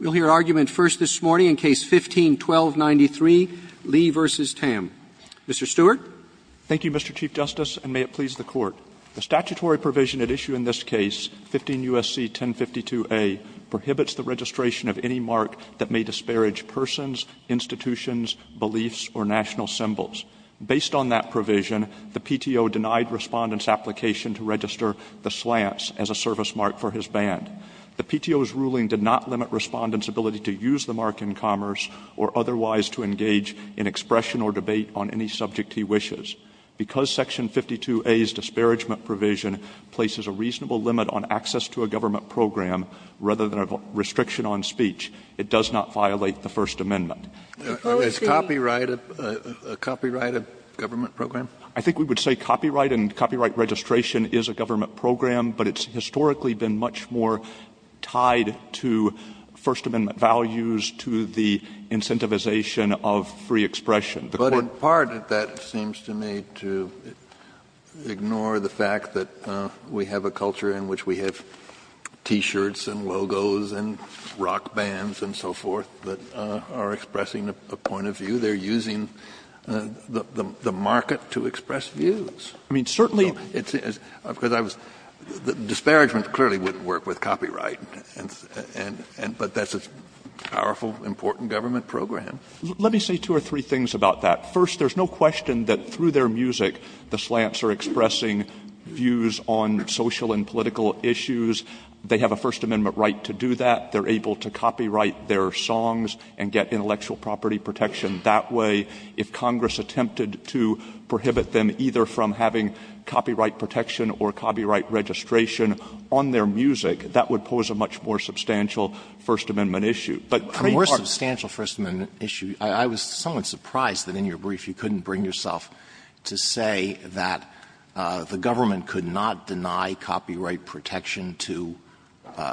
We'll hear argument first this morning in Case No. 15-1293, Lee v. Tam. Mr. Stewart. Thank you, Mr. Chief Justice, and may it please the Court. The statutory provision at issue in this case, 15 U.S.C. 1052a, prohibits the registration of any mark that may disparage persons, institutions, beliefs, or national symbols. Based on that provision, the PTO denied Respondent's application to register the slants as a service mark for his band. The PTO's ruling did not limit Respondent's ability to use the mark in commerce or otherwise to engage in expression or debate on any subject he wishes. Because Section 52a's disparagement provision places a reasonable limit on access to a government program rather than a restriction on speech, it does not violate the First Amendment. Is copyright a government program? I think we would say copyright and copyright registration is a government program, but it's historically been much more tied to First Amendment values, to the incentivization of free expression. Kennedy. But in part, that seems to me to ignore the fact that we have a culture in which we have T-shirts and logos and rock bands and so forth that are expressing a point of view. They're using the market to express views. I mean, certainly it's as — because I was — Disparagement clearly wouldn't work with copyright, and — but that's a powerful, important government program. Let me say two or three things about that. First, there's no question that through their music, the slants are expressing views on social and political issues. They have a First Amendment right to do that. They're able to copyright their songs and get intellectual property protection that way. If Congress attempted to prohibit them either from having copyright protection or copyright registration on their music, that would pose a much more substantial First Amendment issue. But — More substantial First Amendment issue. I was somewhat surprised that in your brief you couldn't bring yourself to say that the government could not deny copyright protection to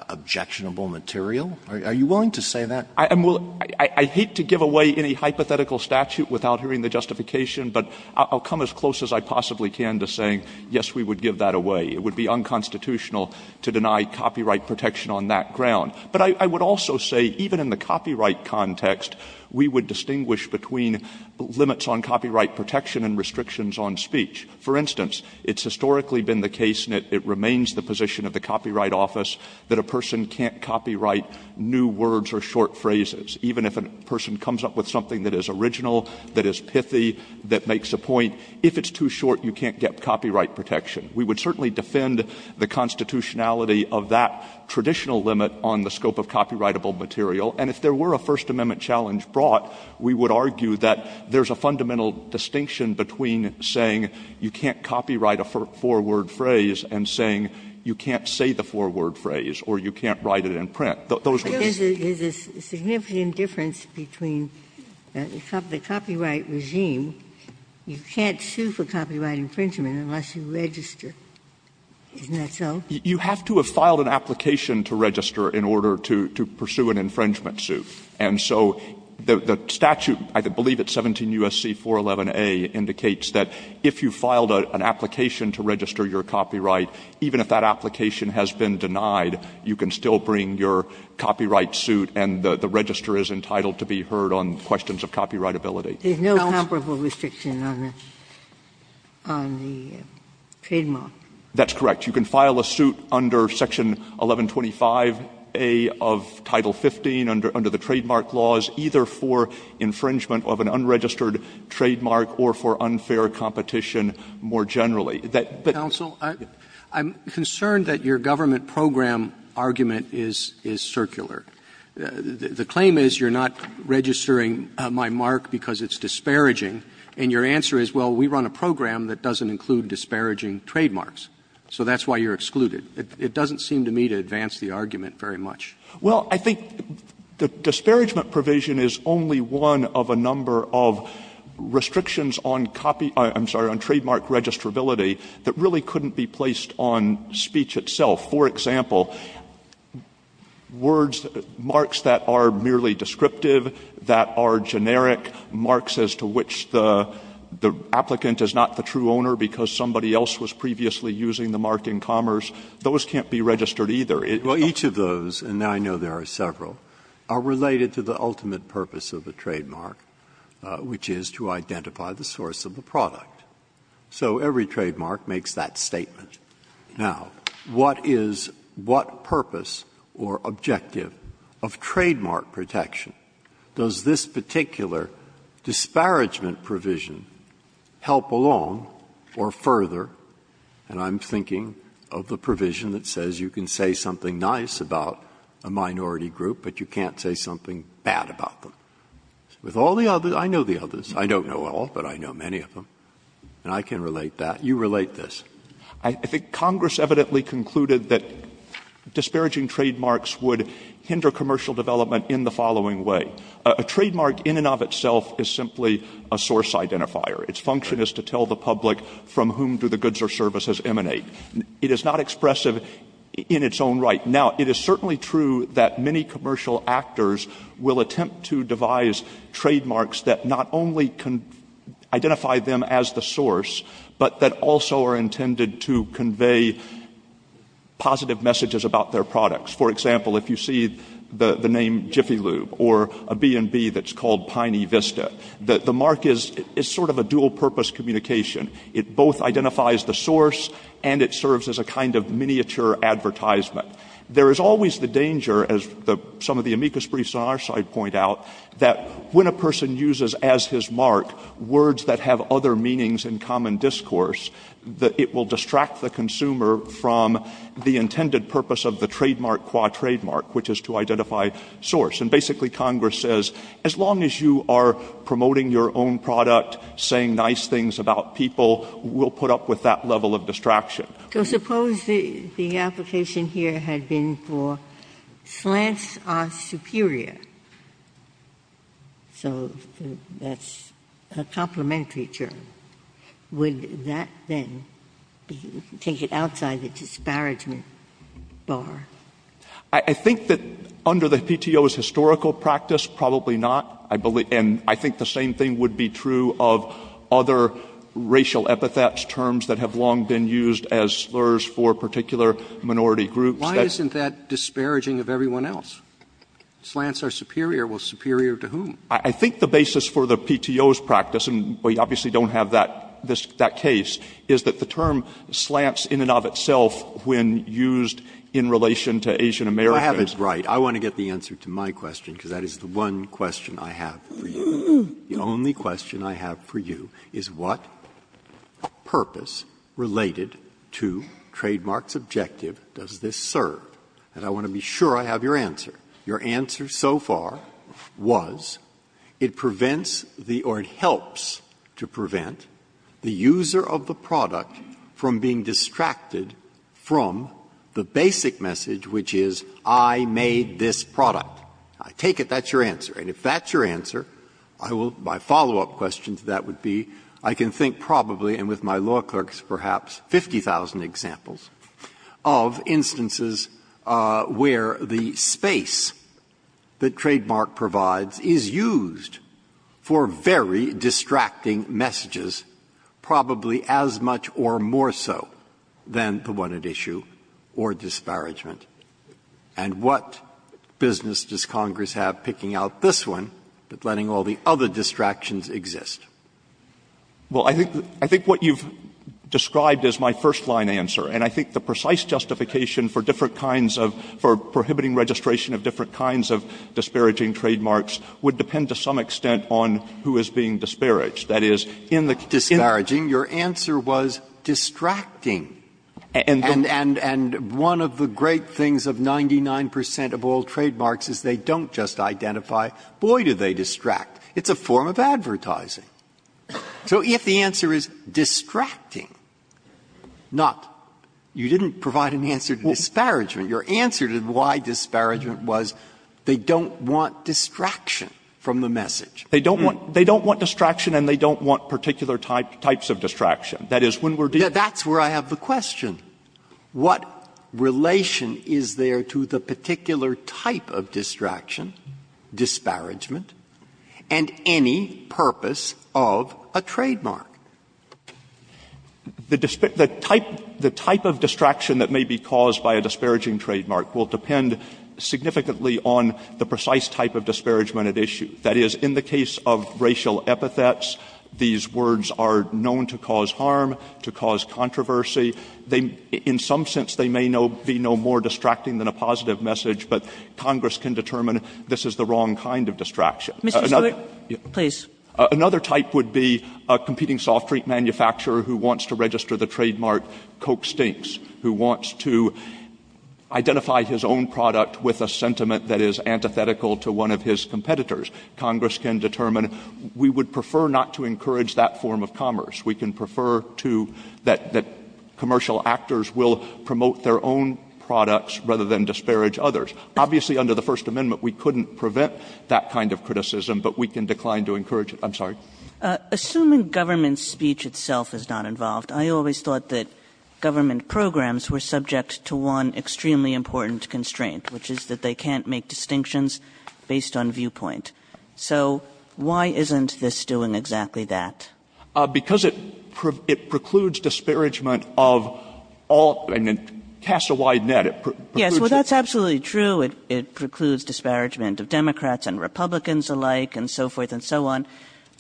objectionable material. Are you willing to say that? I'm willing — I hate to give away any hypothetical statute without hearing the justification, but I'll come as close as I possibly can to saying, yes, we would give that away. It would be unconstitutional to deny copyright protection on that ground. But I would also say, even in the copyright context, we would distinguish between limits on copyright protection and restrictions on speech. For instance, it's historically been the case, and it remains the position of the Copyright Office, that a person can't copyright new words or short phrases, even if a person comes up with something that is original, that is pithy, that makes a point. If it's too short, you can't get copyright protection. We would certainly defend the constitutionality of that traditional limit on the scope of copyrightable material. And if there were a First Amendment challenge brought, we would argue that there's a fundamental distinction between saying you can't copyright a four-word phrase and saying you can't say the four-word phrase or you can't write it in print. Those are the differences. Ginsburg-Miller There's a significant difference between the copyright regime. You can't sue for copyright infringement unless you register. Isn't that so? Stewart You have to have filed an application to register in order to pursue an infringement suit. And so the statute, I believe it's 17 U.S.C. 411a, indicates that if you filed an application to register your copyright, even if that application has been denied, you can still bring your copyright suit and the register is entitled to be heard on questions of copyrightability. Ginsburg-Miller There's no comparable restriction on the trademark. Stewart That's correct. You can file a suit under Section 1125a of Title 15 under the trademark laws, either for infringement of an unregistered trademark or for unfair competition more generally. Roberts I'm concerned that your government program argument is circular. The claim is you're not registering my mark because it's disparaging, and your answer is, well, we run a program that doesn't include disparaging trademarks, so that's why you're excluded. It doesn't seem to me to advance the argument very much. Stewart Well, I think the disparagement provision is only one of a number of restrictions on trademark registrability that really couldn't be placed on speech itself. For example, words, marks that are merely descriptive, that are generic, marks as to which the applicant is not the true owner because somebody else was previously using the mark in commerce, those can't be registered either. Breyer Well, each of those, and I know there are several, are related to the ultimate purpose of the trademark, which is to identify the source of the product. So every trademark makes that statement. Now, what is what purpose or objective of trademark protection? Does this particular disparagement provision help along or further? And I'm thinking of the provision that says you can say something nice about a minority group, but you can't say something bad about them. With all the others, I know the others. I don't know all, but I know many of them. And I can relate that. You relate this. Stewart I think Congress evidently concluded that disparaging trademarks would hinder commercial development in the following way. A trademark in and of itself is simply a source identifier. Its function is to tell the public from whom do the goods or services emanate. It is not expressive in its own right. Now, it is certainly true that many commercial actors will attempt to devise trademarks that not only identify them as the source, but that also are intended to convey positive messages about their products. For example, if you see the name Jiffy Lube or a B&B that's called Piney Vista, the mark is sort of a dual-purpose communication. It both identifies the source and it serves as a kind of miniature advertisement. There is always the danger, as some of the amicus briefs on our side point out, that when a person uses as his mark words that have other meanings and common discourse, that it will distract the consumer from the intended purpose of the trademark qua trademark, which is to identify source. And basically, Congress says, as long as you are promoting your own product, saying nice things about people, we'll put up with that level of distraction. Ginsburg. So suppose the application here had been for slants are superior. So that's a complementary term. Would that then take it outside the disparagement bar? I think that under the PTO's historical practice, probably not. And I think the same thing would be true of other racial epithets, terms that have long been used as slurs for particular minority groups. Why isn't that disparaging of everyone else? Slants are superior. Well, superior to whom? I think the basis for the PTO's practice, and we obviously don't have that case, is that the term slants in and of itself when used in relation to Asian Americans. I have it right. Breyer. I want to get the answer to my question, because that is the one question I have for you. The only question I have for you is what purpose related to trademark's objective does this serve? And I want to be sure I have your answer. Your answer so far was it prevents the or it helps to prevent the user of the product from being distracted from the basic message, which is I made this product. I take it that's your answer. And if that's your answer, I will my follow-up question to that would be, I can think probably, and with my law clerks perhaps, 50,000 examples of instances where the space that trademark provides is used for very distracting messages, probably as much or less or more so than the one at issue, or disparagement. And what business does Congress have picking out this one, but letting all the other distractions exist? Well, I think what you've described is my first-line answer. And I think the precise justification for different kinds of, for prohibiting registration of different kinds of disparaging trademarks would depend to some extent on who is being disparaged. That is, in the disparaging, your answer was distracting. And one of the great things of 99 percent of all trademarks is they don't just identify, boy, do they distract. It's a form of advertising. So if the answer is distracting, not you didn't provide an answer to disparagement. Your answer to why disparagement was they don't want distraction from the message. They don't want distraction and they don't want particular types of distraction. That is, when we're dealing with That's where I have the question. What relation is there to the particular type of distraction, disparagement, and any purpose of a trademark? The type of distraction that may be caused by a disparaging trademark will depend significantly on the precise type of disparagement at issue. That is, in the case of racial epithets, these words are known to cause harm, to cause controversy. In some sense, they may be no more distracting than a positive message, but Congress can determine this is the wrong kind of distraction. Another type would be a competing soft drink manufacturer who wants to register the trademark Coke Stinks, who wants to identify his own product with a sentiment that is antithetical to one of his competitors. Congress can determine we would prefer not to encourage that form of commerce. We can prefer to, that commercial actors will promote their own products rather than disparage others. Obviously, under the First Amendment, we couldn't prevent that kind of criticism, but we can decline to encourage it. I'm sorry. Assuming government speech itself is not involved, I always thought that government programs were subject to one extremely important constraint, which is that they can't make distinctions based on viewpoint. So why isn't this doing exactly that? Because it precludes disparagement of all of them, and it casts a wide net. Yes, well, that's absolutely true. It precludes disparagement of Democrats and Republicans alike and so forth and so on.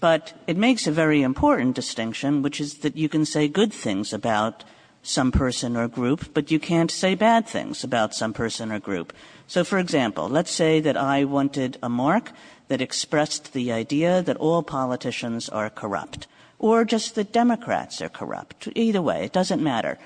But it makes a very important distinction, which is that you can say good things about some person or group, but you can't say bad things about some person or group. So, for example, let's say that I wanted a mark that expressed the idea that all politicians are corrupt or just that Democrats are corrupt. Either way, it doesn't matter.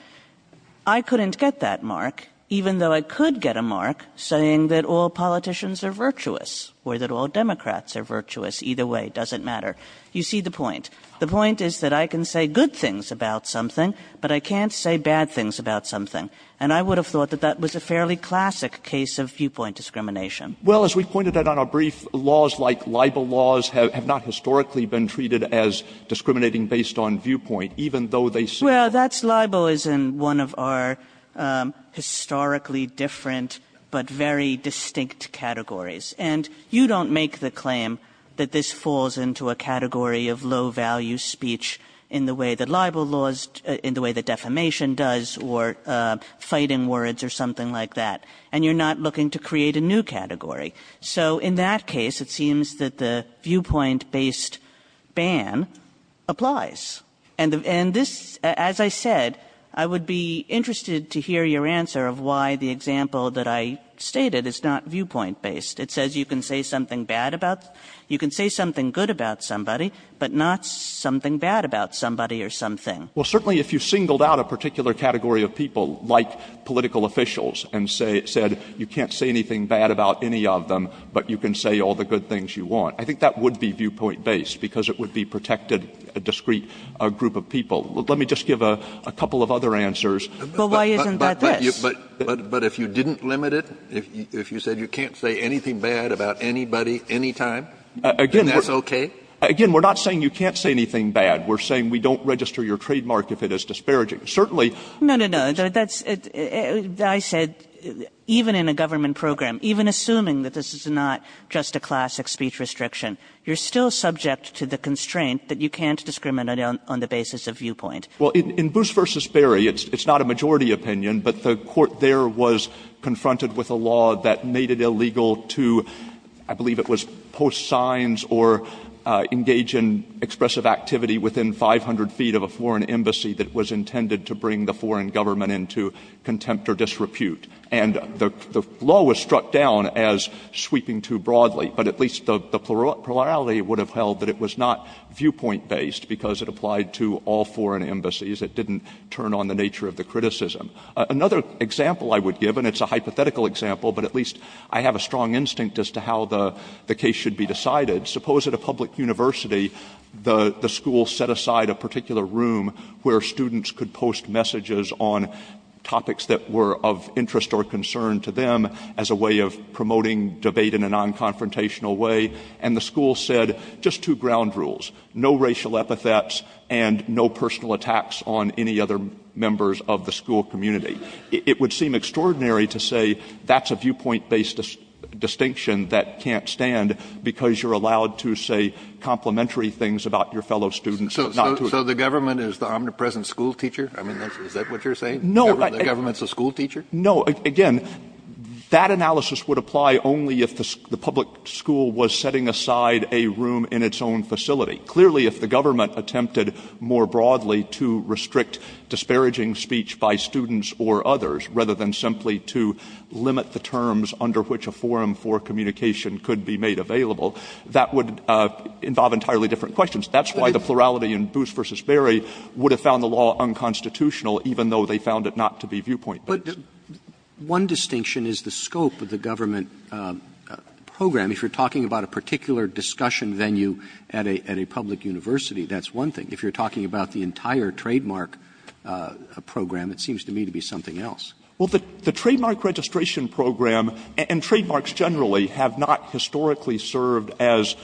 I couldn't get that mark, even though I could get a mark saying that all politicians are virtuous or that all Democrats are virtuous. Either way, it doesn't matter. You see the point. The point is that I can say good things about something, but I can't say bad things about something. And I would have thought that that was a fairly classic case of viewpoint discrimination. Well, as we pointed out on our brief, laws like libel laws have not historically been treated as discriminating based on viewpoint, even though they say that. Well, that's libel is in one of our historically different but very distinct categories. And you don't make the claim that this falls into a category of low-value speech in the way that libel laws, in the way that defamation does or fighting words or something like that. And you're not looking to create a new category. So in that case, it seems that the viewpoint-based ban applies. And this, as I said, I would be interested to hear your answer of why the example that I stated is not viewpoint-based. It says you can say something bad about, you can say something good about somebody, but not something bad about somebody or something. Well, certainly if you singled out a particular category of people like political officials and said you can't say anything bad about any of them, but you can say all the good things you want, I think that would be viewpoint-based because it would be protected, a discrete group of people. Let me just give a couple of other answers. But why isn't that this? But if you didn't limit it, if you said you can't say anything bad about anybody anytime, that's okay? Again, we're not saying you can't say anything bad. We're saying we don't register your trademark if it is disparaging. Certainly you can't say anything bad about anybody. No, no, no, I said even in a government program, even assuming that this is not just a classic speech restriction, you're still subject to the constraint that you can't discriminate on the basis of viewpoint. Well, in Boose v. Berry, it's not a majority opinion, but the Court there was confronted with a law that made it illegal to, I believe it was post signs or engage in expressive activity within 500 feet of a foreign embassy that was intended to bring the foreign government into contempt or disrepute. And the law was struck down as sweeping too broadly. But at least the plurality would have held that it was not viewpoint-based because it applied to all foreign embassies. It didn't turn on the nature of the criticism. Another example I would give, and it's a hypothetical example, but at least I have a strong instinct as to how the case should be decided. Suppose at a public university, the school set aside a particular room where students could post messages on topics that were of interest or concern to them as a way of promoting debate in a non-confrontational way. And the school said, just two ground rules, no racial epithets and no personal contact with other members of the school community. It would seem extraordinary to say that's a viewpoint-based distinction that can't stand because you're allowed to say complementary things about your fellow students. So the government is the omnipresent school teacher? I mean, is that what you're saying? No. The government's a school teacher? No. Again, that analysis would apply only if the public school was setting aside a room in its own facility. Clearly, if the government attempted more broadly to restrict disparaging speech by students or others, rather than simply to limit the terms under which a forum for communication could be made available, that would involve entirely different questions. That's why the plurality in Booth v. Berry would have found the law unconstitutional even though they found it not to be viewpoint-based. Robertson, But one distinction is the scope of the government program. If you're talking about a particular discussion venue at a public university, that's one thing. If you're talking about the entire trademark program, it seems to me to be something else. Well, the trademark registration program and trademarks generally have not historically served as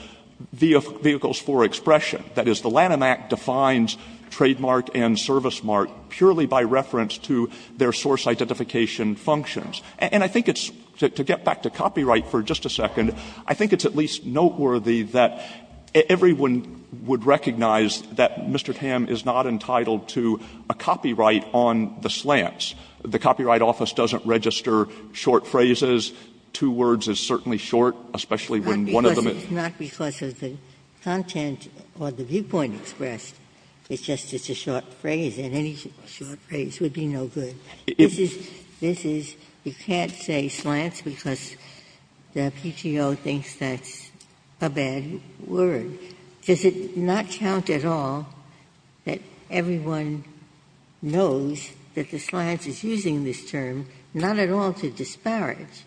vehicles for expression. That is, the Lanham Act defines trademark and service mark purely by reference to their source identification functions. And I think it's, to get back to copyright for just a second, I think it's at least noteworthy that everyone would recognize that Mr. Tam is not entitled to a copyright on the slants. The Copyright Office doesn't register short phrases. Two words is certainly short, especially when one of them is. Ginsburg. It's not because of the content or the viewpoint expressed. It's just it's a short phrase, and any short phrase would be no good. This is, you can't say slants because the PTO thinks that's a bad word. Does it not count at all that everyone knows that the slants is using this term, not at all to disparage,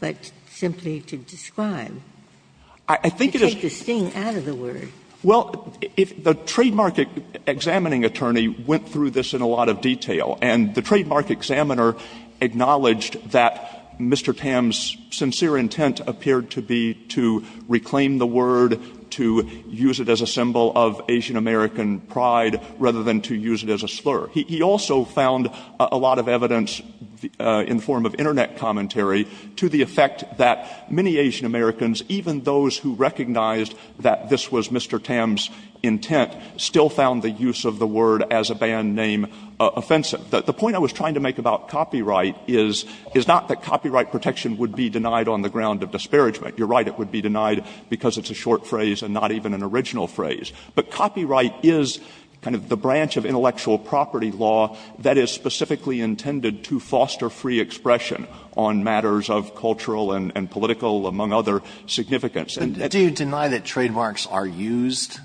but simply to describe? I think it is. To take the sting out of the word. Well, the trademark examining attorney went through this in a lot of detail. And the trademark examiner acknowledged that Mr. Tam's sincere intent appeared to be to reclaim the word, to use it as a symbol of Asian American pride, rather than to use it as a slur. He also found a lot of evidence in the form of Internet commentary to the effect that many Asian Americans, even those who recognized that this was Mr. Tam's intent, still found the use of the word as a band name offensive. The point I was trying to make about copyright is, is not that copyright protection would be denied on the ground of disparagement. You're right, it would be denied because it's a short phrase and not even an original phrase. But copyright is kind of the branch of intellectual property law that is specifically intended to foster free expression on matters of cultural and political, among other significance. Alito, do you deny that trademarks are used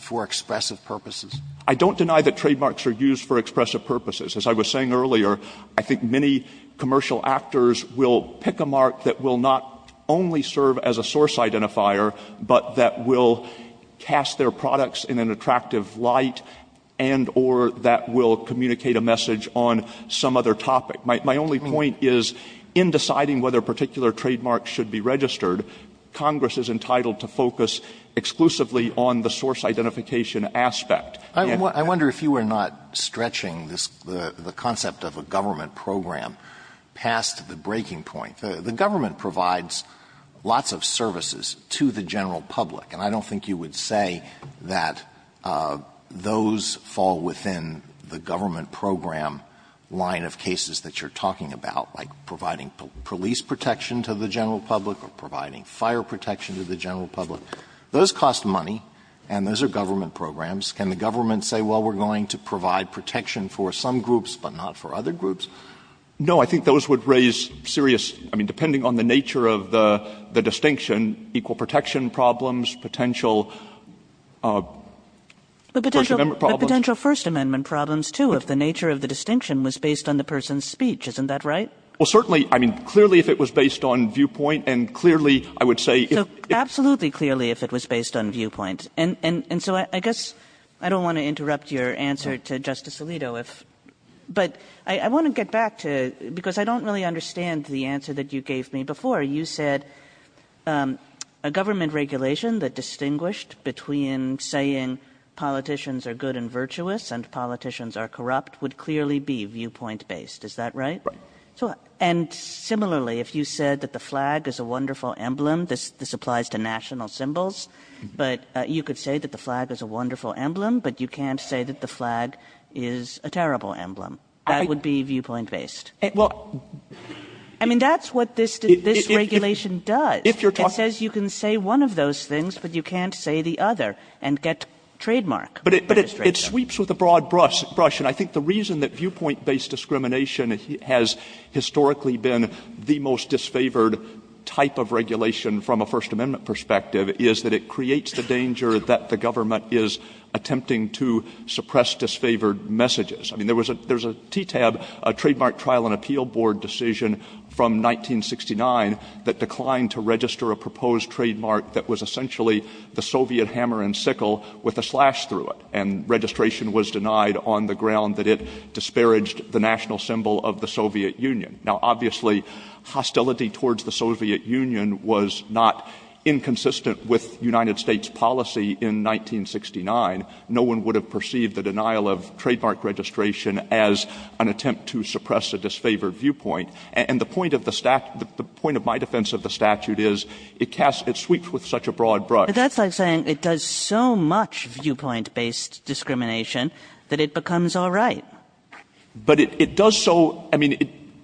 for expressive purposes? I don't deny that trademarks are used for expressive purposes. As I was saying earlier, I think many commercial actors will pick a mark that will not only serve as a source identifier, but that will cast their products in an attractive light and or that will communicate a message on some other topic. My only point is, in deciding whether a particular trademark should be registered, Congress is entitled to focus exclusively on the source identification Alito, I wonder if you were not stretching this, the concept of a government program, past the breaking point. The government provides lots of services to the general public, and I don't think you would say that those fall within the government program line of cases that you're talking about, like providing police protection to the general public or providing fire protection to the general public. Those cost money, and those are government programs. Can the government say, well, we're going to provide protection for some groups, but not for other groups? No, I think those would raise serious, I mean, depending on the nature of the distinction, equal protection problems, potential First Amendment problems. But potential First Amendment problems, too, if the nature of the distinction was based on the person's speech, isn't that right? Well, certainly, I mean, clearly if it was based on viewpoint, and clearly, I would say if the ---- So absolutely clearly if it was based on viewpoint. And so I guess I don't want to interrupt your answer to Justice Alito, but I want to get back to, because I don't really understand the answer that you gave me before. You said a government regulation that distinguished between saying politicians are good and virtuous and politicians are corrupt would clearly be viewpoint-based. Is that right? Right. And similarly, if you said that the flag is a wonderful emblem, this applies to national symbols, but you could say that the flag is a wonderful emblem, but you can't say that the flag is a terrible emblem. That would be viewpoint-based. Well ---- I mean, that's what this regulation does. If you're talking ---- It says you can say one of those things, but you can't say the other and get trademark. But it sweeps with a broad brush, and I think the reason that viewpoint-based discrimination has historically been the most disfavored type of regulation from a First Amendment perspective is that it creates the danger that the government is attempting to suppress disfavored messages. I mean, there was a TTAB, a Trademark Trial and Appeal Board decision from 1969 that declined to register a proposed trademark that was essentially the Soviet hammer and sickle with a slash through it, and registration was denied on the ground that it disparaged the national symbol of the Soviet Union. Now, obviously, hostility towards the Soviet Union was not inconsistent with United States policy in 1969. No one would have perceived the denial of trademark registration as an attempt to suppress a disfavored viewpoint, and the point of the statute ---- the point of my defense of the statute is it casts ---- it sweeps with such a broad brush. But that's like saying it does so much viewpoint-based discrimination that it becomes all right. But it does so ---- I mean,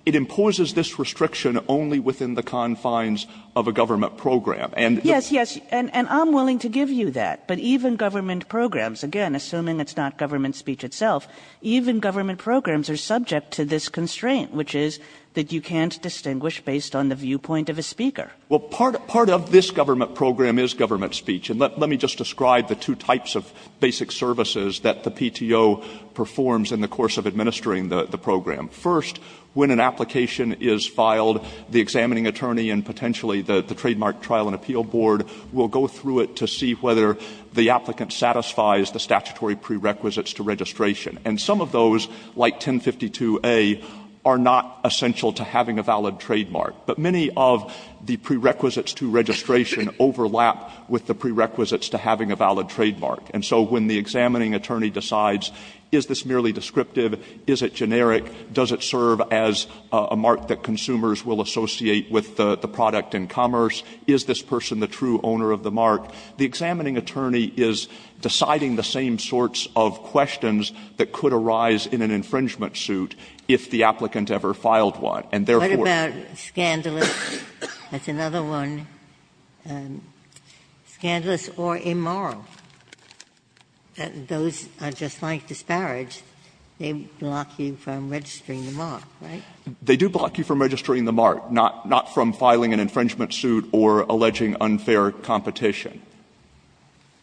it imposes this restriction only within the confines of a government program. And the ---- Yes, yes, and I'm willing to give you that. But even government programs, again, assuming it's not government speech itself, even government programs are subject to this constraint, which is that you can't distinguish based on the viewpoint of a speaker. Well, part of this government program is government speech. And let me just describe the two types of basic services that the PTO performs in the course of administering the program. First, when an application is filed, the examining attorney and potentially the Trademark Trial and Appeal Board will go through it to see whether the applicant satisfies the statutory prerequisites to registration. And some of those, like 1052a, are not essential to having a valid trademark. But many of the prerequisites to registration overlap with the prerequisites to having a valid trademark. And so when the examining attorney decides is this merely descriptive, is it generic, does it serve as a mark that consumers will associate with the product in commerce, is this person the true owner of the mark, the examining attorney is deciding the same sorts of questions that could arise in an infringement suit if the applicant ever filed one. And therefore ---- Ginsburg. That's another one. Scandalous or immoral. Those are just like disparage. They block you from registering the mark, right? They do block you from registering the mark, not from filing an infringement suit or alleging unfair competition.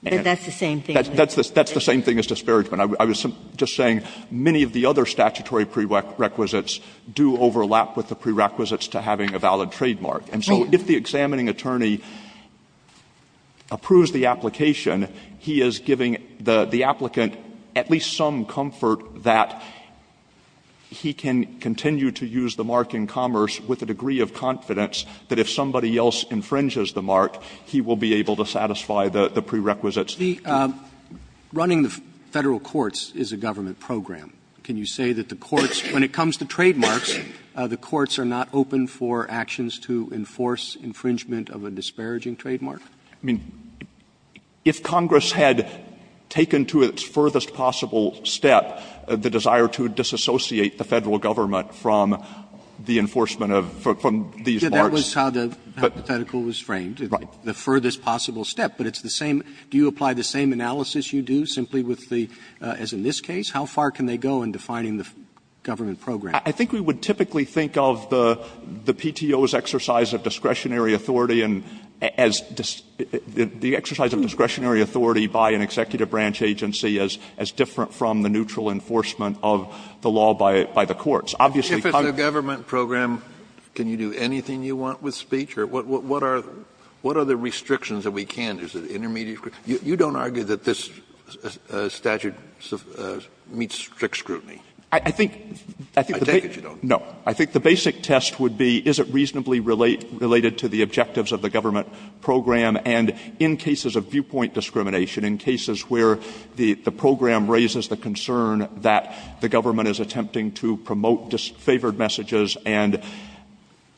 But that's the same thing. That's the same thing as disparagement. I was just saying many of the other statutory prerequisites do overlap with the prerequisites to having a valid trademark. And so if the examining attorney approves the application, he is giving the applicant at least some comfort that he can continue to use the mark in commerce with a degree of confidence that if somebody else infringes the mark, he will be able to satisfy the prerequisites. Roberts. Running the Federal courts is a government program. Can you say that the courts, when it comes to trademarks, the courts are not open for actions to enforce infringement of a disparaging trademark? I mean, if Congress had taken to its furthest possible step the desire to disassociate the Federal government from the enforcement of these marks. Yes, that was how the hypothetical was framed, the furthest possible step. But it's the same do you apply the same analysis you do simply with the, as in this case, the PTO in defining the government program. I think we would typically think of the PTO's exercise of discretionary authority and as the exercise of discretionary authority by an executive branch agency as different from the neutral enforcement of the law by the courts. Obviously, Congress can't do that. Kennedy, if it's a government program, can you do anything you want with speech? Or what are the restrictions that we can't? Is it intermediate? You don't argue that this statute meets strict scrutiny? I take it you don't. No. I think the basic test would be is it reasonably related to the objectives of the government program. And in cases of viewpoint discrimination, in cases where the program raises the concern that the government is attempting to promote disfavored messages and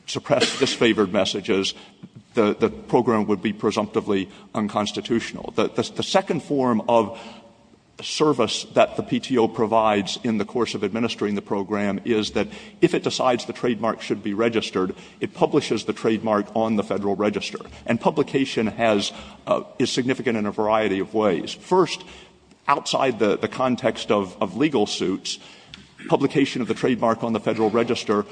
suppress disfavored messages, the program would be presumptively unconstitutional. The second form of service that the PTO provides in the course of administering the program is that if it decides the trademark should be registered, it publishes the trademark on the Federal Register. And publication is significant in a variety of ways. First, outside the context of legal suits, publication of the trademark on the Federal Register,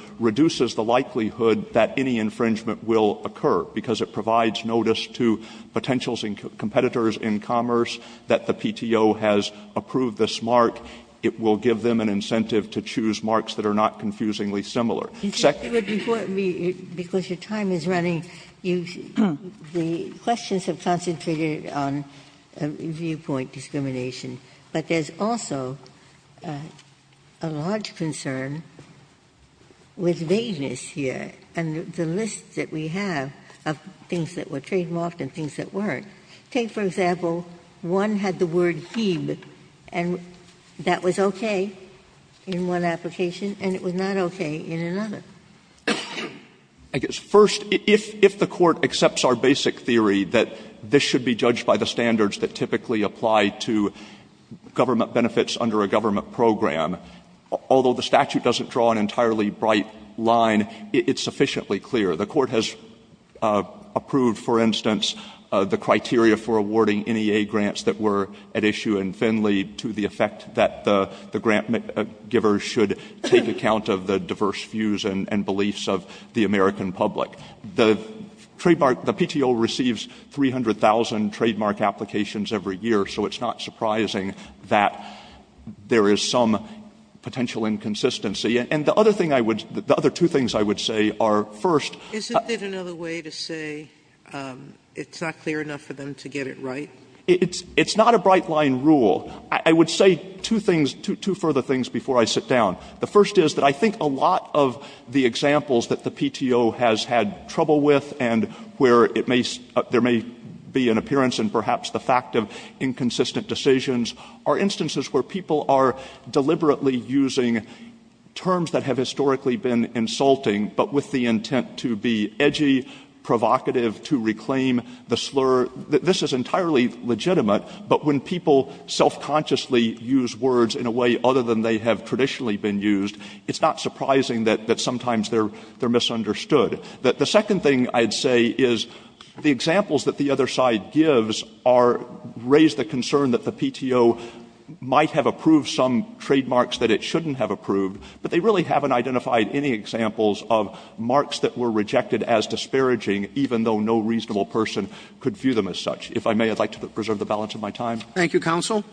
any infringement will occur, because it provides notice to potential competitors in commerce that the PTO has approved this mark. It will give them an incentive to choose marks that are not confusingly similar. Second of all, it would be important to me, because your time is running, the questions have concentrated on viewpoint discrimination, but there's also a large concern with vagueness here and the list that we have of things that were trademarked and things that weren't. Take, for example, one had the word hebe, and that was okay in one application and it was not okay in another. Stewart. First, if the Court accepts our basic theory that this should be judged by the standards that typically apply to government benefits under a government program, although the statute doesn't draw an entirely bright line, it's sufficiently clear. The Court has approved, for instance, the criteria for awarding NEA grants that were at issue in Finley to the effect that the grant givers should take account of the diverse views and beliefs of the American public. The trademark — the PTO receives 300,000 trademark applications every year, so it's not surprising that there is some potential inconsistency. And the other thing I would — the other two things I would say are, first — Sotomayor, isn't there another way to say it's not clear enough for them to get it right? Stewart. It's not a bright-line rule. I would say two things, two further things before I sit down. The first is that I think a lot of the examples that the PTO has had trouble with and where it may — there may be an appearance and perhaps the fact of inconsistent decisions are instances where people are deliberately using terms that have historically been insulting, but with the intent to be edgy, provocative, to reclaim the slur. This is entirely legitimate, but when people self-consciously use words in a way other than they have traditionally been used, it's not surprising that sometimes they're misunderstood. The second thing I'd say is the examples that the other side gives are — raise the concern that the PTO might have approved some trademarks that it shouldn't have approved, but they really haven't identified any examples of marks that were rejected as disparaging, even though no reasonable person could view them as such. If I may, I'd like to preserve the balance of my time. Roberts. Thank you, counsel.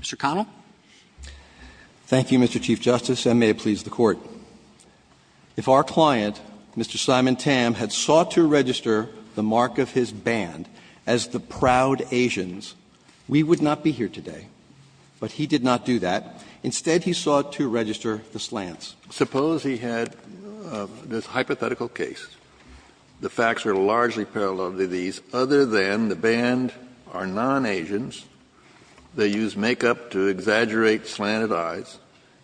Mr. Connell. Thank you, Mr. Chief Justice, and may it please the Court. If our client, Mr. Simon Tam, had sought to register the mark of his band as the slants, suppose he had this hypothetical case, the facts are largely parallel to these, other than the band are non-Asians, they use makeup to exaggerate slanted eyes,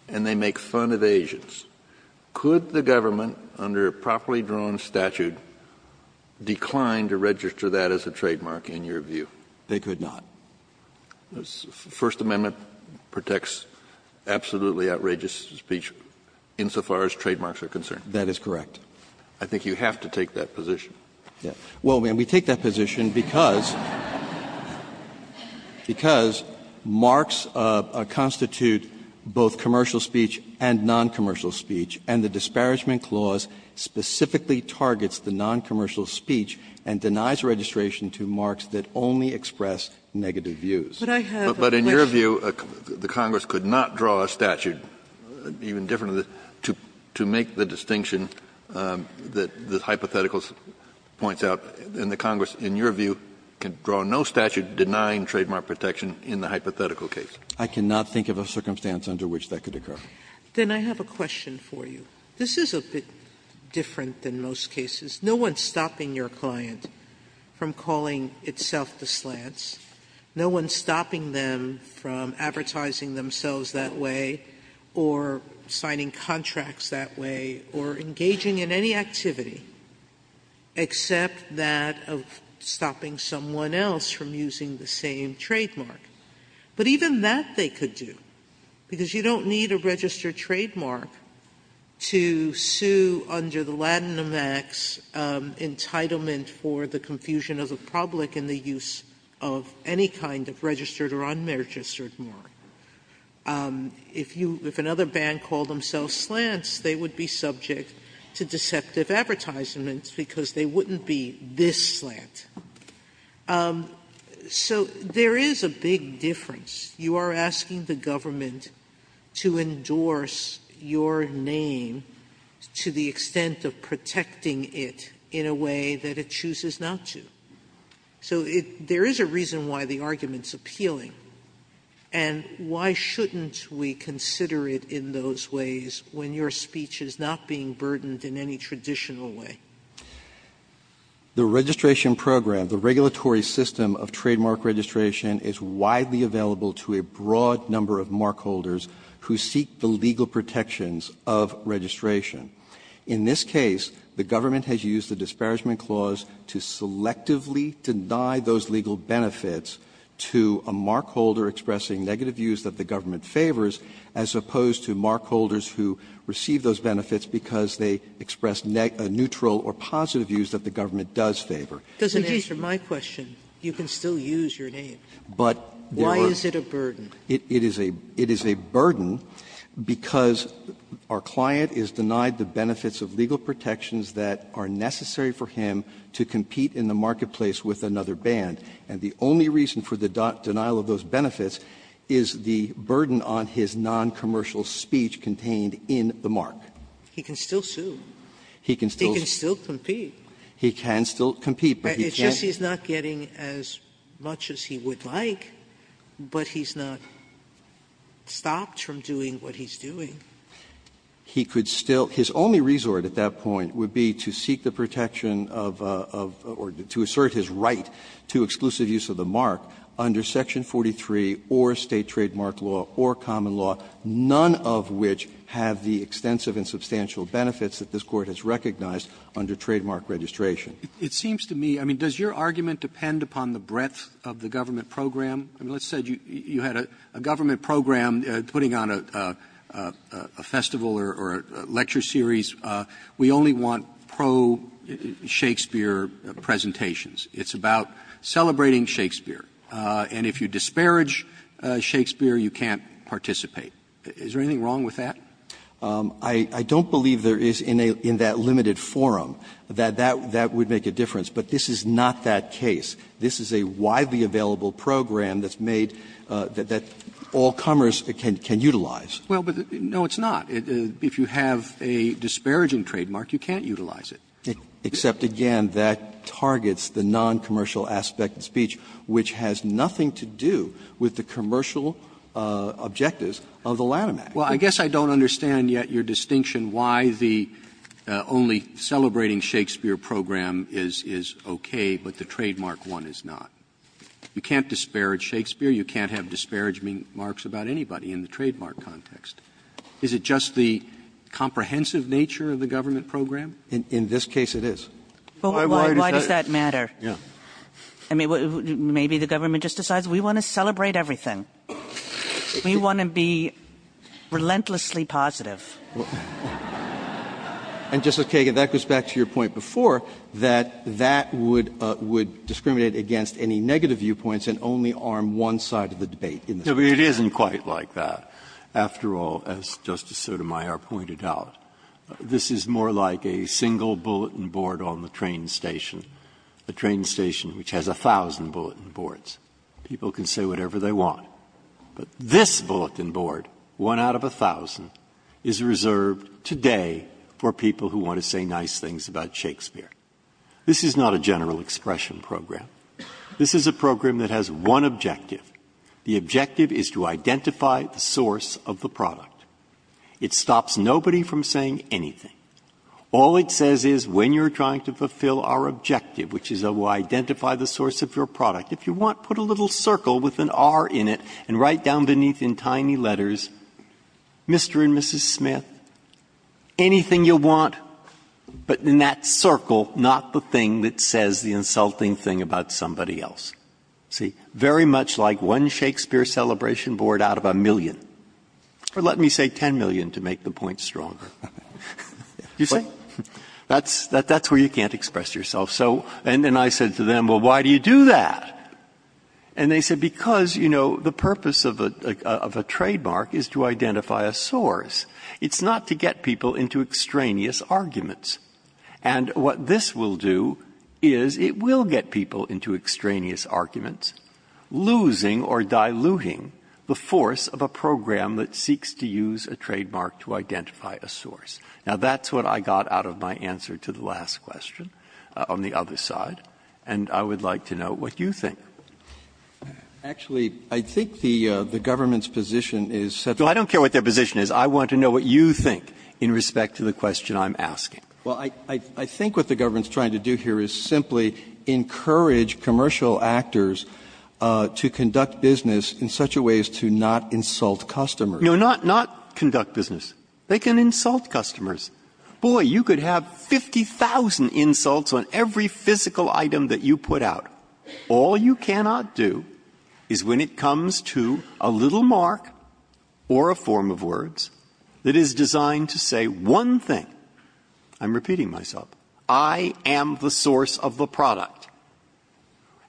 and they make fun of Asians. Could the government, under a properly drawn statute, decline to register that as a trademark in your view? They could not. The First Amendment protects absolutely outrageous speech insofar as trademarks are concerned. That is correct. I think you have to take that position. Well, we take that position because — Because marks constitute both commercial speech and noncommercial speech, and the Disparagement Clause specifically targets the noncommercial speech and denies registration to marks that only express negative views. But I have a question. But in your view, the Congress could not draw a statute even different to make the distinction that the hypotheticals points out, and the Congress, in your view, can draw no statute denying trademark protection in the hypothetical case. I cannot think of a circumstance under which that could occur. Then I have a question for you. This is a bit different than most cases. No one is stopping your client from calling itself the slants. No one is stopping them from advertising themselves that way or signing contracts that way or engaging in any activity except that of stopping someone else from using the same trademark. But even that they could do, because you don't need a registered trademark to sue under the Latinamax entitlement for the confusion of the public in the use of any kind of registered or unregistered mark. If you — if another band called themselves slants, they would be subject to deceptive advertisements because they wouldn't be this slant. So there is a big difference. You are asking the government to endorse your name to the extent of protecting it in a way that it chooses not to. So it — there is a reason why the argument is appealing. And why shouldn't we consider it in those ways when your speech is not being burdened in any traditional way? The registration program, the regulatory system of trademark registration is widely available to a broad number of markholders who seek the legal protections of registration. In this case, the government has used the Disparagement Clause to selectively deny those legal benefits to a markholder expressing negative views that the government favors, as opposed to markholders who receive those benefits because they express neutral or positive views that the government does favor. Sotomayor, it doesn't answer my question. You can still use your name. Why is it a burden? It is a burden because our client is denied the benefits of legal protections that are necessary for him to compete in the marketplace with another band. And the only reason for the denial of those benefits is the burden on his noncommercial speech contained in the mark. He can still sue. He can still — He can still compete. He can still compete, but he can't — But it's just he's not getting as much as he would like, but he's not stopped from doing what he's doing. He could still — his only resort at that point would be to seek the protection of — or to assert his right to exclusive use of the mark under Section 43 or State Trademark Law or Common Law, none of which have the extensive and substantial benefits that this Court has recognized under trademark registration. It seems to me — I mean, does your argument depend upon the breadth of the government program? I mean, let's say you had a government program putting on a festival or a lecture series. We only want pro-Shakespeare presentations. It's about celebrating Shakespeare. And if you disparage Shakespeare, you can't participate. Is there anything wrong with that? I don't believe there is in that limited forum that that would make a difference. But this is not that case. This is a widely available program that's made — that all comers can utilize. Well, but no, it's not. If you have a disparaging trademark, you can't utilize it. Except, again, that targets the noncommercial aspect of speech, which has nothing to do with the commercial objectives of the Lanham Act. Well, I guess I don't understand yet your distinction why the only celebrating Shakespeare program is okay, but the trademark one is not. You can't disparage Shakespeare. You can't have disparagement marks about anybody in the trademark context. Is it just the comprehensive nature of the government program? In this case, it is. Why does that matter? Yeah. I mean, maybe the government just decides we want to celebrate everything. We want to be relentlessly positive. And, Justice Kagan, that goes back to your point before, that that would — would discriminate against any negative viewpoints and only arm one side of the debate in this case. No, but it isn't quite like that. After all, as Justice Sotomayor pointed out, this is more like a single bulletin board on the train station, a train station which has 1,000 bulletin boards. People can say whatever they want. But this bulletin board, one out of 1,000, is reserved today for people who want to say nice things about Shakespeare. This is not a general expression program. This is a program that has one objective. The objective is to identify the source of the product. It stops nobody from saying anything. All it says is, when you're trying to fulfill our objective, which is to identify the source of your product, if you want, put a little circle with an R in it and write down beneath in tiny letters, Mr. and Mrs. Smith, anything you want, but in that circle, not the thing that says the insulting thing about somebody else. See? Very much like one Shakespeare celebration board out of a million. Or let me say 10 million to make the point stronger. You see? That's — that's where you can't express yourself. So — and I said to them, well, why do you do that? And they said, because, you know, the purpose of a — of a trademark is to identify a source. It's not to get people into extraneous arguments. And what this will do is it will get people into extraneous arguments, losing or diluting the force of a program that seeks to use a trademark to identify a source. Now, that's what I got out of my answer to the last question on the other side. And I would like to know what you think. Actually, I think the government's position is such that — Well, I don't care what their position is. I want to know what you think in respect to the question I'm asking. Well, I think what the government's trying to do here is simply encourage commercial actors to conduct business in such a way as to not insult customers. No, not conduct business. They can insult customers. Boy, you could have 50,000 insults on every physical item that you put out. All you cannot do is when it comes to a little mark or a form of words that is designed to say one thing. I'm repeating myself. I am the source of the product.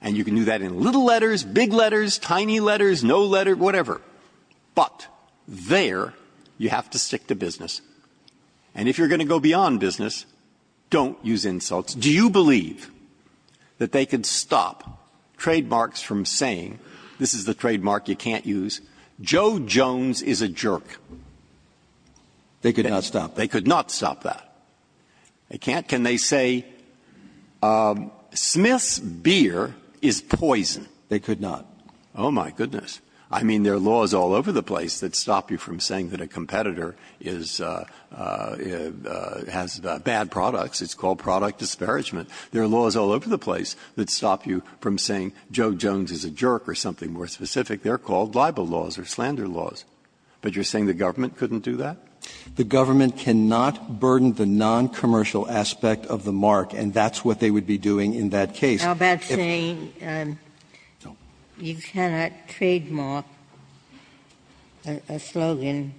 And you can do that in little letters, big letters, tiny letters, no letter, whatever. But there, you have to stick to business. And if you're going to go beyond business, don't use insults. Do you believe that they could stop trademarks from saying, this is the trademark you can't use, Joe Jones is a jerk? They could not stop. They could not stop that. They can't. Can they say, Smith's beer is poison? They could not. Oh, my goodness. I mean, there are laws all over the place that stop you from saying that a competitor is has bad products. It's called product disparagement. There are laws all over the place that stop you from saying Joe Jones is a jerk or something more specific. They're called libel laws or slander laws. But you're saying the government couldn't do that? The government cannot burden the noncommercial aspect of the mark, and that's what they would be doing in that case. Ginsburg-How about saying you cannot trademark a slogan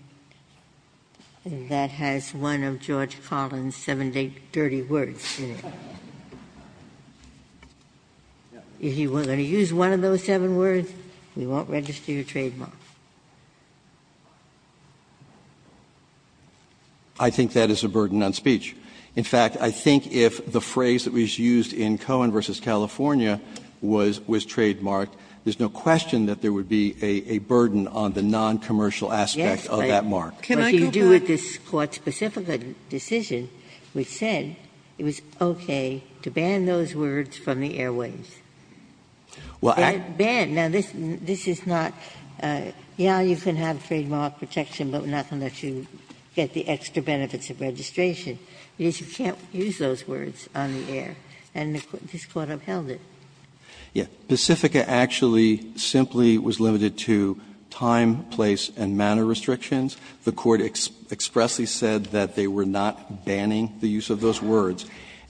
that has one of George Collins' seven dirty words in it? If you were going to use one of those seven words, we won't register your trademark. Schnapper I think that is a burden on speech. In fact, I think if the phrase that was used in Cohen v. California was trademarked, there's no question that there would be a burden on the noncommercial aspect of that mark. Ginsburg-Howe Can I go back? Ginsburg-Howe What you do with this Court's specific decision, which said it was okay to ban those words from the airwaves. Schnapper Well, I can't. Ginsburg-Howe Ban. Now, this is not yeah, you can have trademark protection, but we're not going to let you get the extra benefits of registration. Because you can't use those words on the air, and this Court upheld it. Schnapper Yeah. Pacifica actually simply was limited to time, place, and manner restrictions. The Court expressly said that they were not banning the use of those words.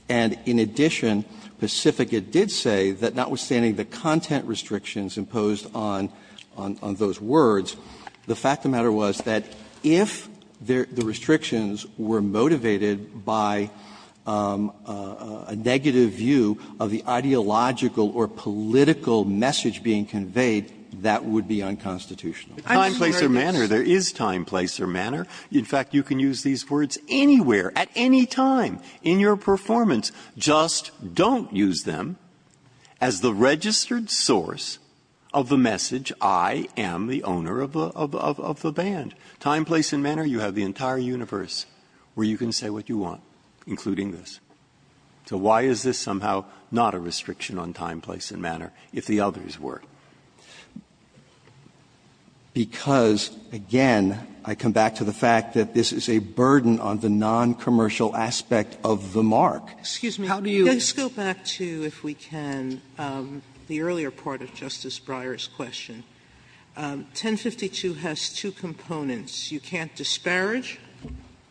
And in addition, Pacifica did say that notwithstanding the content restrictions imposed on those words, the fact of the matter was that if the restrictions were motivated by a negative view of the ideological or political message being conveyed, that would be unconstitutional. Breyer I'm sure there is. Breyer To the time, place, or manner, there is time, place, or manner. In fact, you can use these words anywhere, at any time in your performance. Just don't use them as the registered source of the message, I am the owner of the band. Time, place, and manner, you have the entire universe where you can say what you want, including this. So why is this somehow not a restriction on time, place, and manner, if the others were? Because, again, I come back to the fact that this is a burden on the noncommercial aspect of the mark. Sotomayor How do you? Sotomayor Let's go back to, if we can, the earlier part of Justice Breyer's question. 1052 has two components. You can't disparage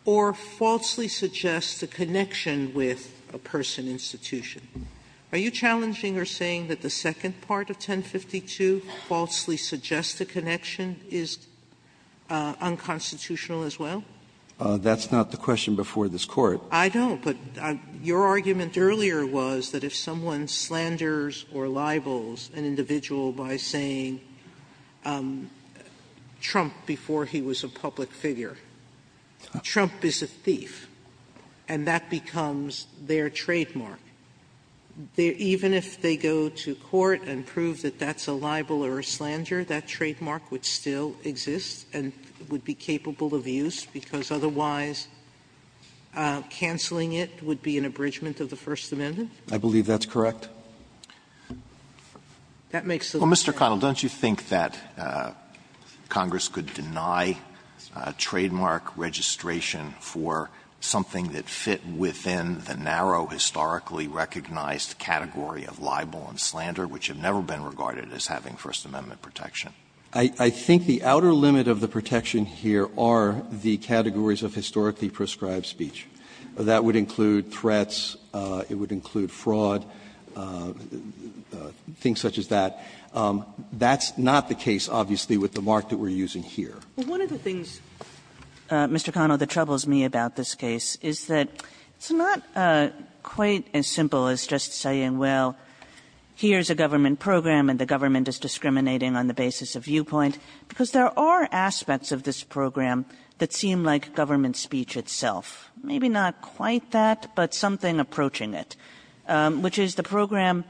or falsely suggest a connection with a person, institution. Are you challenging or saying that the second part of 1052, falsely suggest a connection, is unconstitutional as well? Breyer That's not the question before this Court. Sotomayor I don't, but your argument earlier was that if someone slanders or libels an individual by saying Trump before he was a public figure, Trump is a thief, and that becomes their trademark. Even if they go to court and prove that that's a libel or a slander, that trademark would still exist and would be capable of use, because otherwise canceling it would be an abridgment of the First Amendment? Breyer I believe that's correct. Sotomayor That makes the line. Alito Well, Mr. Connell, don't you think that Congress could deny trademark registration for something that fit within the narrow historically recognized category of libel and slander, which have never been regarded as having First Amendment protection? Connell I think the outer limit of the protection here are the categories of historically prescribed speech. That would include threats, it would include fraud, things such as that. That's not the case, obviously, with the mark that we're using here. Kagan Well, one of the things, Mr. Connell, that troubles me about this case is that it's not quite as simple as just saying, well, here's a government program and the government is discriminating on the basis of viewpoint, because there are aspects of this program that seem like government speech itself. Maybe not quite that, but something approaching it, which is the program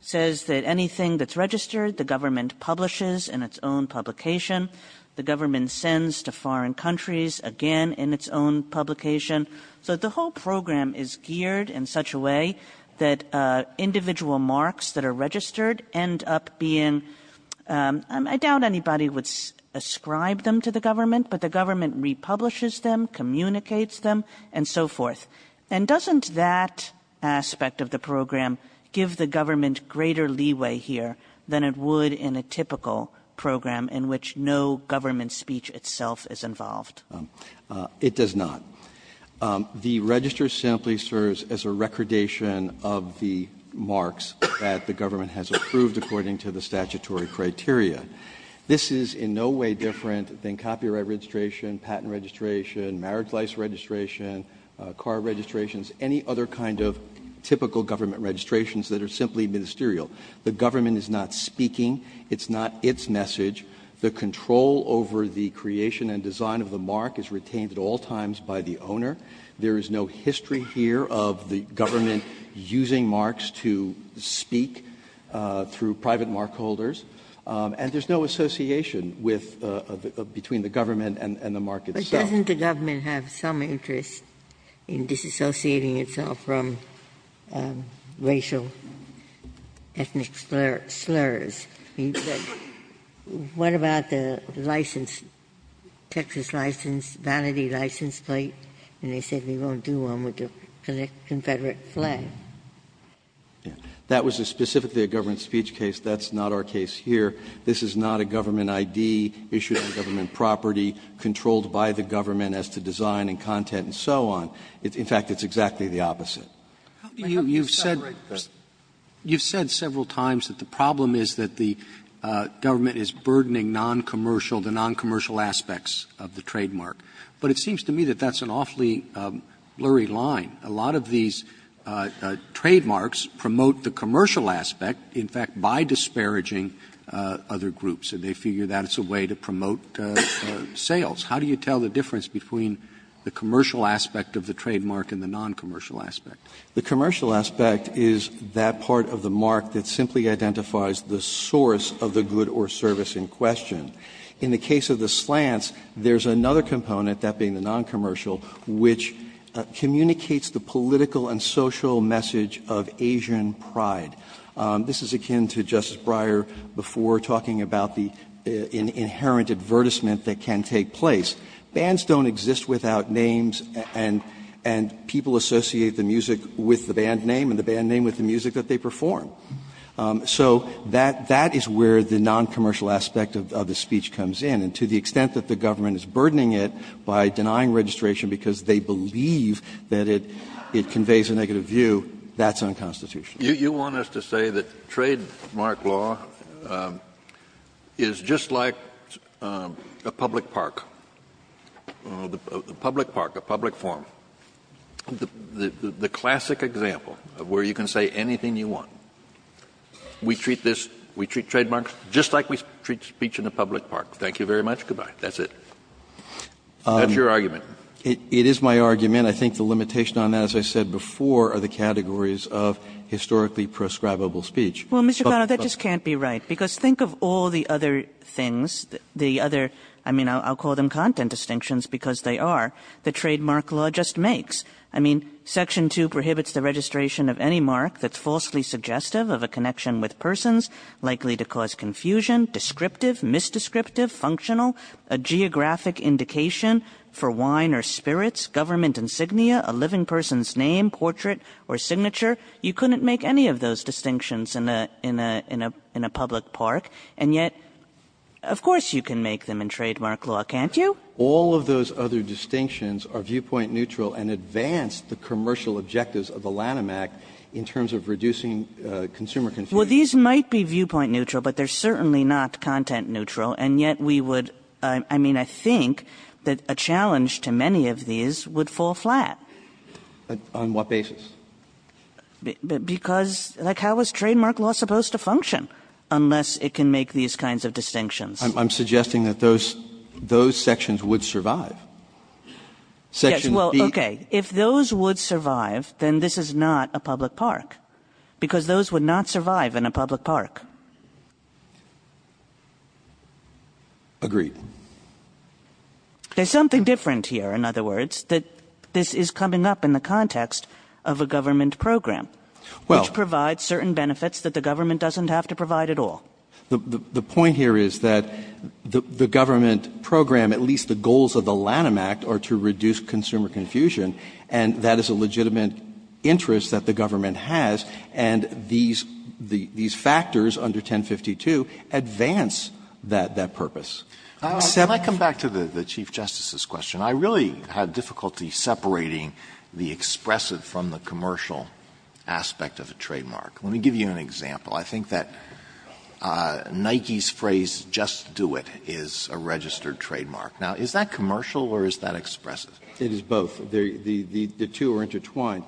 says that anything that's registered, the government publishes in its own publication. The government sends to foreign countries, again, in its own publication. So the whole program is geared in such a way that individual marks that are registered end up being, I doubt anybody would ascribe them to the government, but the government republishes them, communicates them, and so forth. And doesn't that aspect of the program give the government greater leeway here than it would in a typical program in which no government speech itself is involved? Connell It does not. The register simply serves as a recordation of the marks that the government has approved according to the statutory criteria. This is in no way different than copyright registration, patent registration, marriage license registration, car registrations, any other kind of typical government registrations that are simply ministerial. The government is not speaking. It's not its message. The control over the creation and design of the mark is retained at all times by the owner. There is no history here of the government using marks to speak through private mark holders, and there's no association with the government and the mark itself. Ginsburg But doesn't the government have some interest in disassociating itself from racial, ethnic slurs? I mean, what about the license, Texas license, vanity license plate, and they said they won't do one with the Confederate flag? Connell That was specifically a government speech case. That's not our case here. This is not a government ID issued on government property, controlled by the government as to design and content and so on. In fact, it's exactly the opposite. Roberts You've said several times that the problem is that the government is burdening noncommercial, the noncommercial aspects of the trademark. But it seems to me that that's an awfully blurry line. A lot of these trademarks promote the commercial aspect, in fact, by disparaging other groups. And they figure that's a way to promote sales. How do you tell the difference between the commercial aspect of the trademark and the noncommercial aspect? Connell The commercial aspect is that part of the mark that simply identifies the source of the good or service in question. In the case of the slants, there's another component, that being the noncommercial, which communicates the political and social message of Asian pride. This is akin to Justice Breyer before talking about the inherent advertisement that can take place. Bands don't exist without names, and people associate the music with the band name and the band name with the music that they perform. So that is where the noncommercial aspect of the speech comes in. And to the extent that the government is burdening it by denying registration because they believe that it conveys a negative view, that's unconstitutional. Kennedy You want us to say that trademark law is just like a public park. A public park, a public forum. The classic example of where you can say anything you want, we treat this, we treat trademarks just like we treat speech in a public park. Thank you very much. Good-bye. That's it. That's your argument. Verrilli, It is my argument. I think the limitation on that, as I said before, are the categories of historically prescribable speech. Kagan Well, Mr. Connell, that just can't be right, because think of all the other things, the other, I mean, I'll call them content distinctions because they are. The trademark law just makes. I mean, Section 2 prohibits the registration of any mark that's falsely suggestive of a connection with persons, likely to cause confusion, descriptive, misdescriptive, functional, a geographic indication for wine or spirits, government insignia, a living person's name, portrait, or signature. You couldn't make any of those distinctions in a public park. And yet, of course you can make them in trademark law, can't you? Verrilli, All of those other distinctions are viewpoint neutral and advance the commercial objectives of the Lanham Act in terms of reducing consumer confusion. Kagan Well, these might be viewpoint neutral, but they are certainly not content neutral, and yet we would, I mean, I think that a challenge to many of these would fall flat. Verrilli, On what basis? Kagan Because, like, how is trademark law supposed to function unless it can make these kinds of distinctions? Verrilli, I'm suggesting that those sections would survive. Section B. Kagan Yes, well, okay, if those would survive, then this is not a public park because those would not survive in a public park. Verrilli, Agreed. Kagan There's something different here, in other words, that this is coming up in the government program, which provides certain benefits that the government doesn't have to provide at all. Verrilli, The point here is that the government program, at least the goals of the Lanham Act, are to reduce consumer confusion, and that is a legitimate interest that the government has, and these factors under 1052 advance that purpose. neutral. aspect of a trademark. Let me give you an example. I think that Nike's phrase, just do it, is a registered trademark. Now, is that commercial or is that expressive? Verrilli, It is both. The two are intertwined.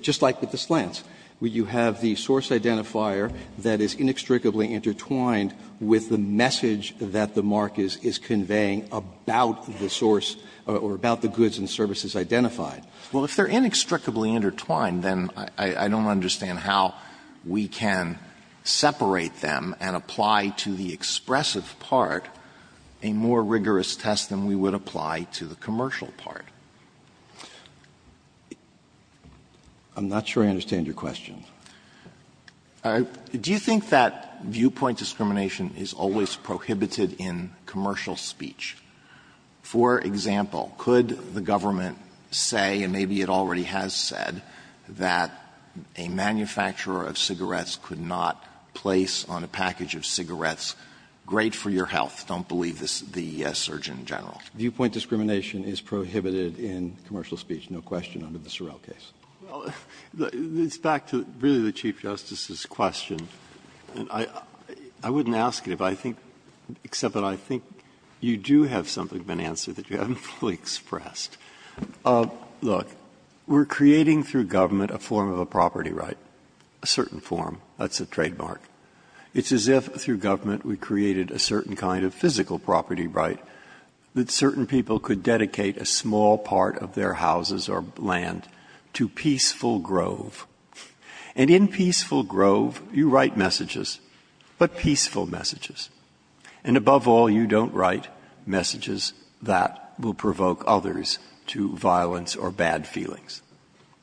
Just like with the slants, where you have the source identifier that is inextricably intertwined with the message that the mark is conveying about the source or about the goods and services identified. Alito Well, if they're inextricably intertwined, then I don't understand how we can separate them and apply to the expressive part a more rigorous test than we would apply to the commercial part. Verrilli, I'm not sure I understand your question. Alito Do you think that viewpoint discrimination is always prohibited in commercial speech? For example, could the government say, and maybe it already has said, that a manufacturer of cigarettes could not place on a package of cigarettes, great for your health, don't believe the surgeon general. Verrilli, Viewpoint discrimination is prohibited in commercial speech, no question under the Sorrell case. Breyer, It's back to really the Chief Justice's question. I wouldn't ask it if I think, except that I think you do have something of an answer that you haven't fully expressed. Look, we're creating through government a form of a property right, a certain form. That's a trademark. It's as if through government we created a certain kind of physical property right that certain people could dedicate a small part of their houses or land to Peaceful Grove. And in Peaceful Grove you write messages, but peaceful messages. And above all, you don't write messages that will provoke others to violence or bad feelings.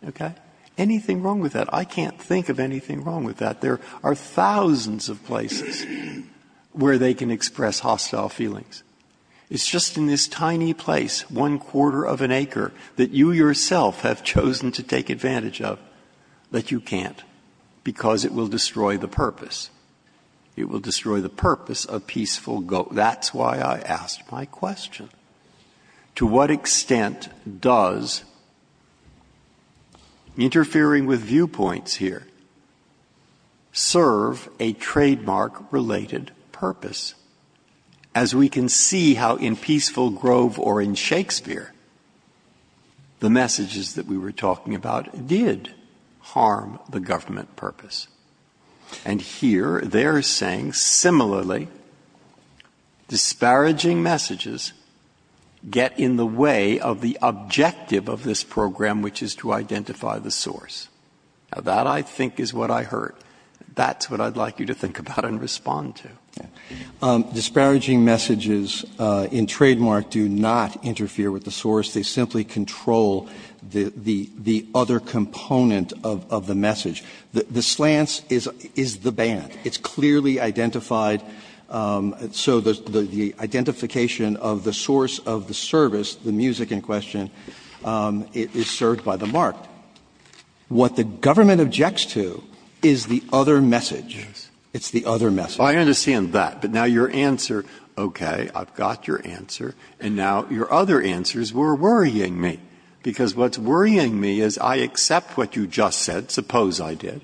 Okay? Anything wrong with that? I can't think of anything wrong with that. There are thousands of places where they can express hostile feelings. It's just in this tiny place, one quarter of an acre, that you yourself have chosen to take advantage of. But you can't, because it will destroy the purpose. It will destroy the purpose of Peaceful Grove. That's why I asked my question. To what extent does interfering with viewpoints here serve a trademark-related purpose? As we can see how in Peaceful Grove or in Shakespeare, the messages that we were talking about did harm the government purpose. And here they are saying, similarly, disparaging messages get in the way of the objective of this program, which is to identify the source. Now, that, I think, is what I heard. That's what I'd like you to think about and respond to. Disparaging messages in trademark do not interfere with the source. They simply control the other component of the message. The slants is the band. It's clearly identified. So the identification of the source of the service, the music in question, is served by the mark. What the government objects to is the other message. It's the other message. Breyer. I understand that. But now your answer, okay, I've got your answer. And now your other answers were worrying me. Because what's worrying me is I accept what you just said, suppose I did.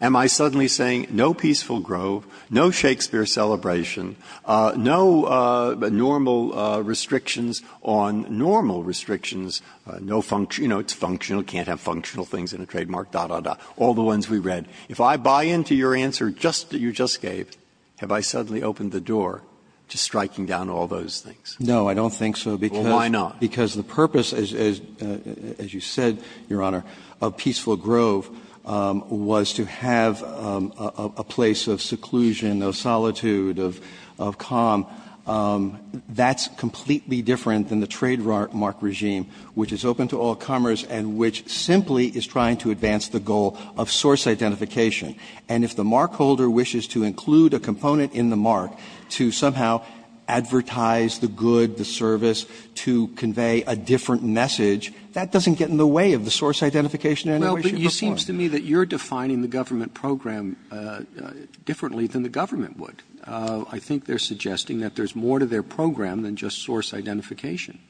Am I suddenly saying, no Peaceful Grove, no Shakespeare celebration, no normal restrictions on normal restrictions, you know, it's functional, can't have functional things in a trademark, da, da, da, all the ones we read. If I buy into your answer just that you just gave, have I suddenly opened the door to striking down all those things? No, I don't think so, because the purpose, as you said, Your Honor, of Peaceful Grove was to have a place of seclusion, of solitude, of calm. That's completely different than the trademark regime, which is open to all comers and which simply is trying to advance the goal of source identification. And if the markholder wishes to include a component in the mark to somehow advertise the good, the service, to convey a different message, that doesn't get in the way of the source identification. Roberts Well, but it seems to me that you're defining the government program differently than the government would. I think they're suggesting that there's more to their program than just source identification.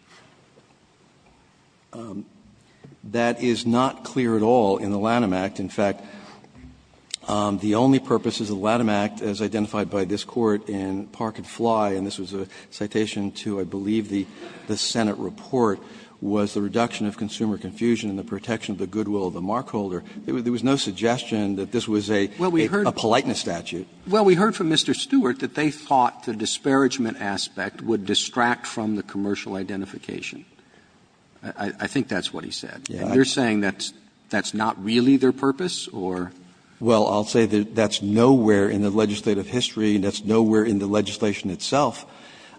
That is not clear at all in the Lanham Act. In fact, the only purposes of the Lanham Act, as identified by this Court in Park and Fly, and this was a citation to, I believe, the Senate report, was the reduction of consumer confusion and the protection of the goodwill of the markholder. There was no suggestion that this was a politeness statute. Roberts Well, we heard from Mr. Stewart that they thought the disparagement aspect would distract from the commercial identification. I think that's what he said. And you're saying that's not really their purpose, or? Verrilli, Well, I'll say that that's nowhere in the legislative history and that's not in the legislation itself.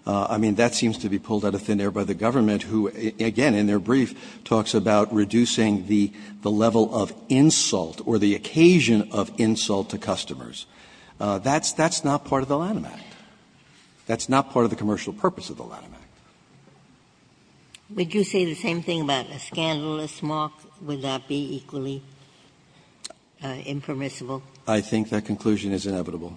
I mean, that seems to be pulled out of thin air by the government, who, again, in their brief, talks about reducing the level of insult or the occasion of insult to customers. That's not part of the Lanham Act. That's not part of the commercial purpose of the Lanham Act. Ginsburg Would you say the same thing about a scandalous mark? Would that be equally impermissible? Verrilli, I think that conclusion is inevitable.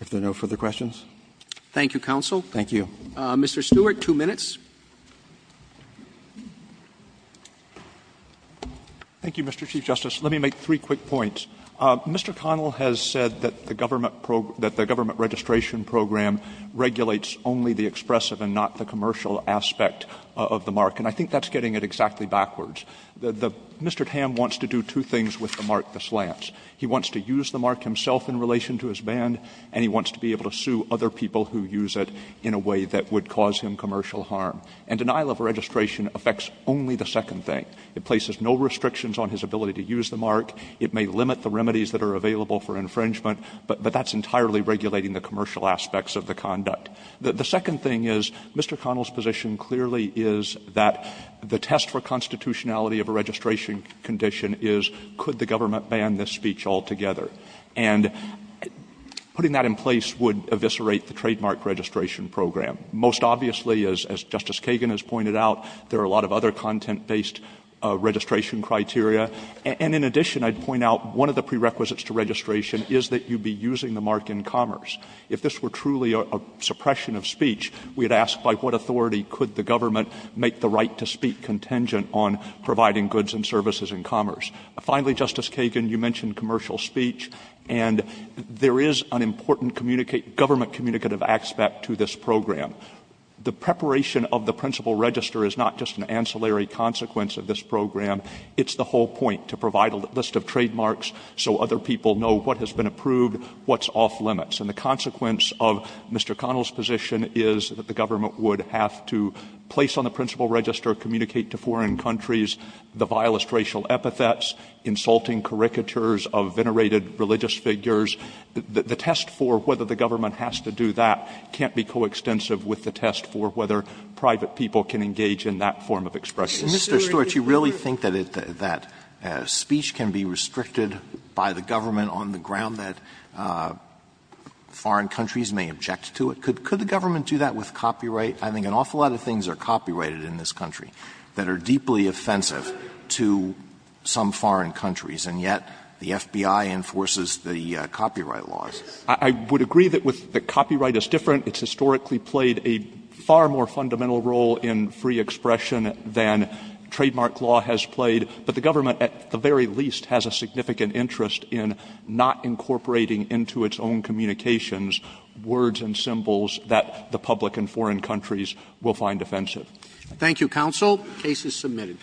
If there are no further questions. Roberts Thank you, counsel. Verrilli, Thank you. Roberts Mr. Stewart, two minutes. Stewart Thank you, Mr. Chief Justice. Let me make three quick points. Mr. Connell has said that the government registration program regulates only the expressive and not the commercial aspect of the mark. And I think that's getting it exactly backwards. Mr. Tam wants to do two things with the mark, the slants. He wants to use the mark himself in relation to his band, and he wants to be able to sue other people who use it in a way that would cause him commercial harm. And denial of registration affects only the second thing. It places no restrictions on his ability to use the mark. It may limit the remedies that are available for infringement, but that's entirely regulating the commercial aspects of the conduct. The second thing is, Mr. Connell's position clearly is that the test for constitutionality of a registration condition is, could the government ban this speech altogether? And putting that in place would eviscerate the trademark registration program. Most obviously, as Justice Kagan has pointed out, there are a lot of other content-based registration criteria. And in addition, I'd point out one of the prerequisites to registration is that you'd be using the mark in commerce. If this were truly a suppression of speech, we'd ask, by what authority could the government make the right to speak contingent on providing goods and services in commerce? Finally, Justice Kagan, you mentioned commercial speech. And there is an important government communicative aspect to this program. The preparation of the principal register is not just an ancillary consequence of this program. It's the whole point, to provide a list of trademarks so other people know what has been approved, what's off limits. And the consequence of Mr. Connell's position is that the government would have to place on the principal register, communicate to foreign countries the vilest racial epithets, insulting caricatures of venerated religious figures. The test for whether the government has to do that can't be coextensive with the test for whether private people can engage in that form of expression. Alito, you really think that speech can be restricted by the government on the ground that foreign countries may object to it? Could the government do that with copyright? I think an awful lot of things are copyrighted in this country that are deeply offensive to some foreign countries, and yet the FBI enforces the copyright laws. I would agree that copyright is different. It's historically played a far more fundamental role in free expression than trademark law has played. But the government, at the very least, has a significant interest in not incorporating into its own communications words and symbols that the public and foreign countries will find offensive. Thank you, counsel. Case is submitted.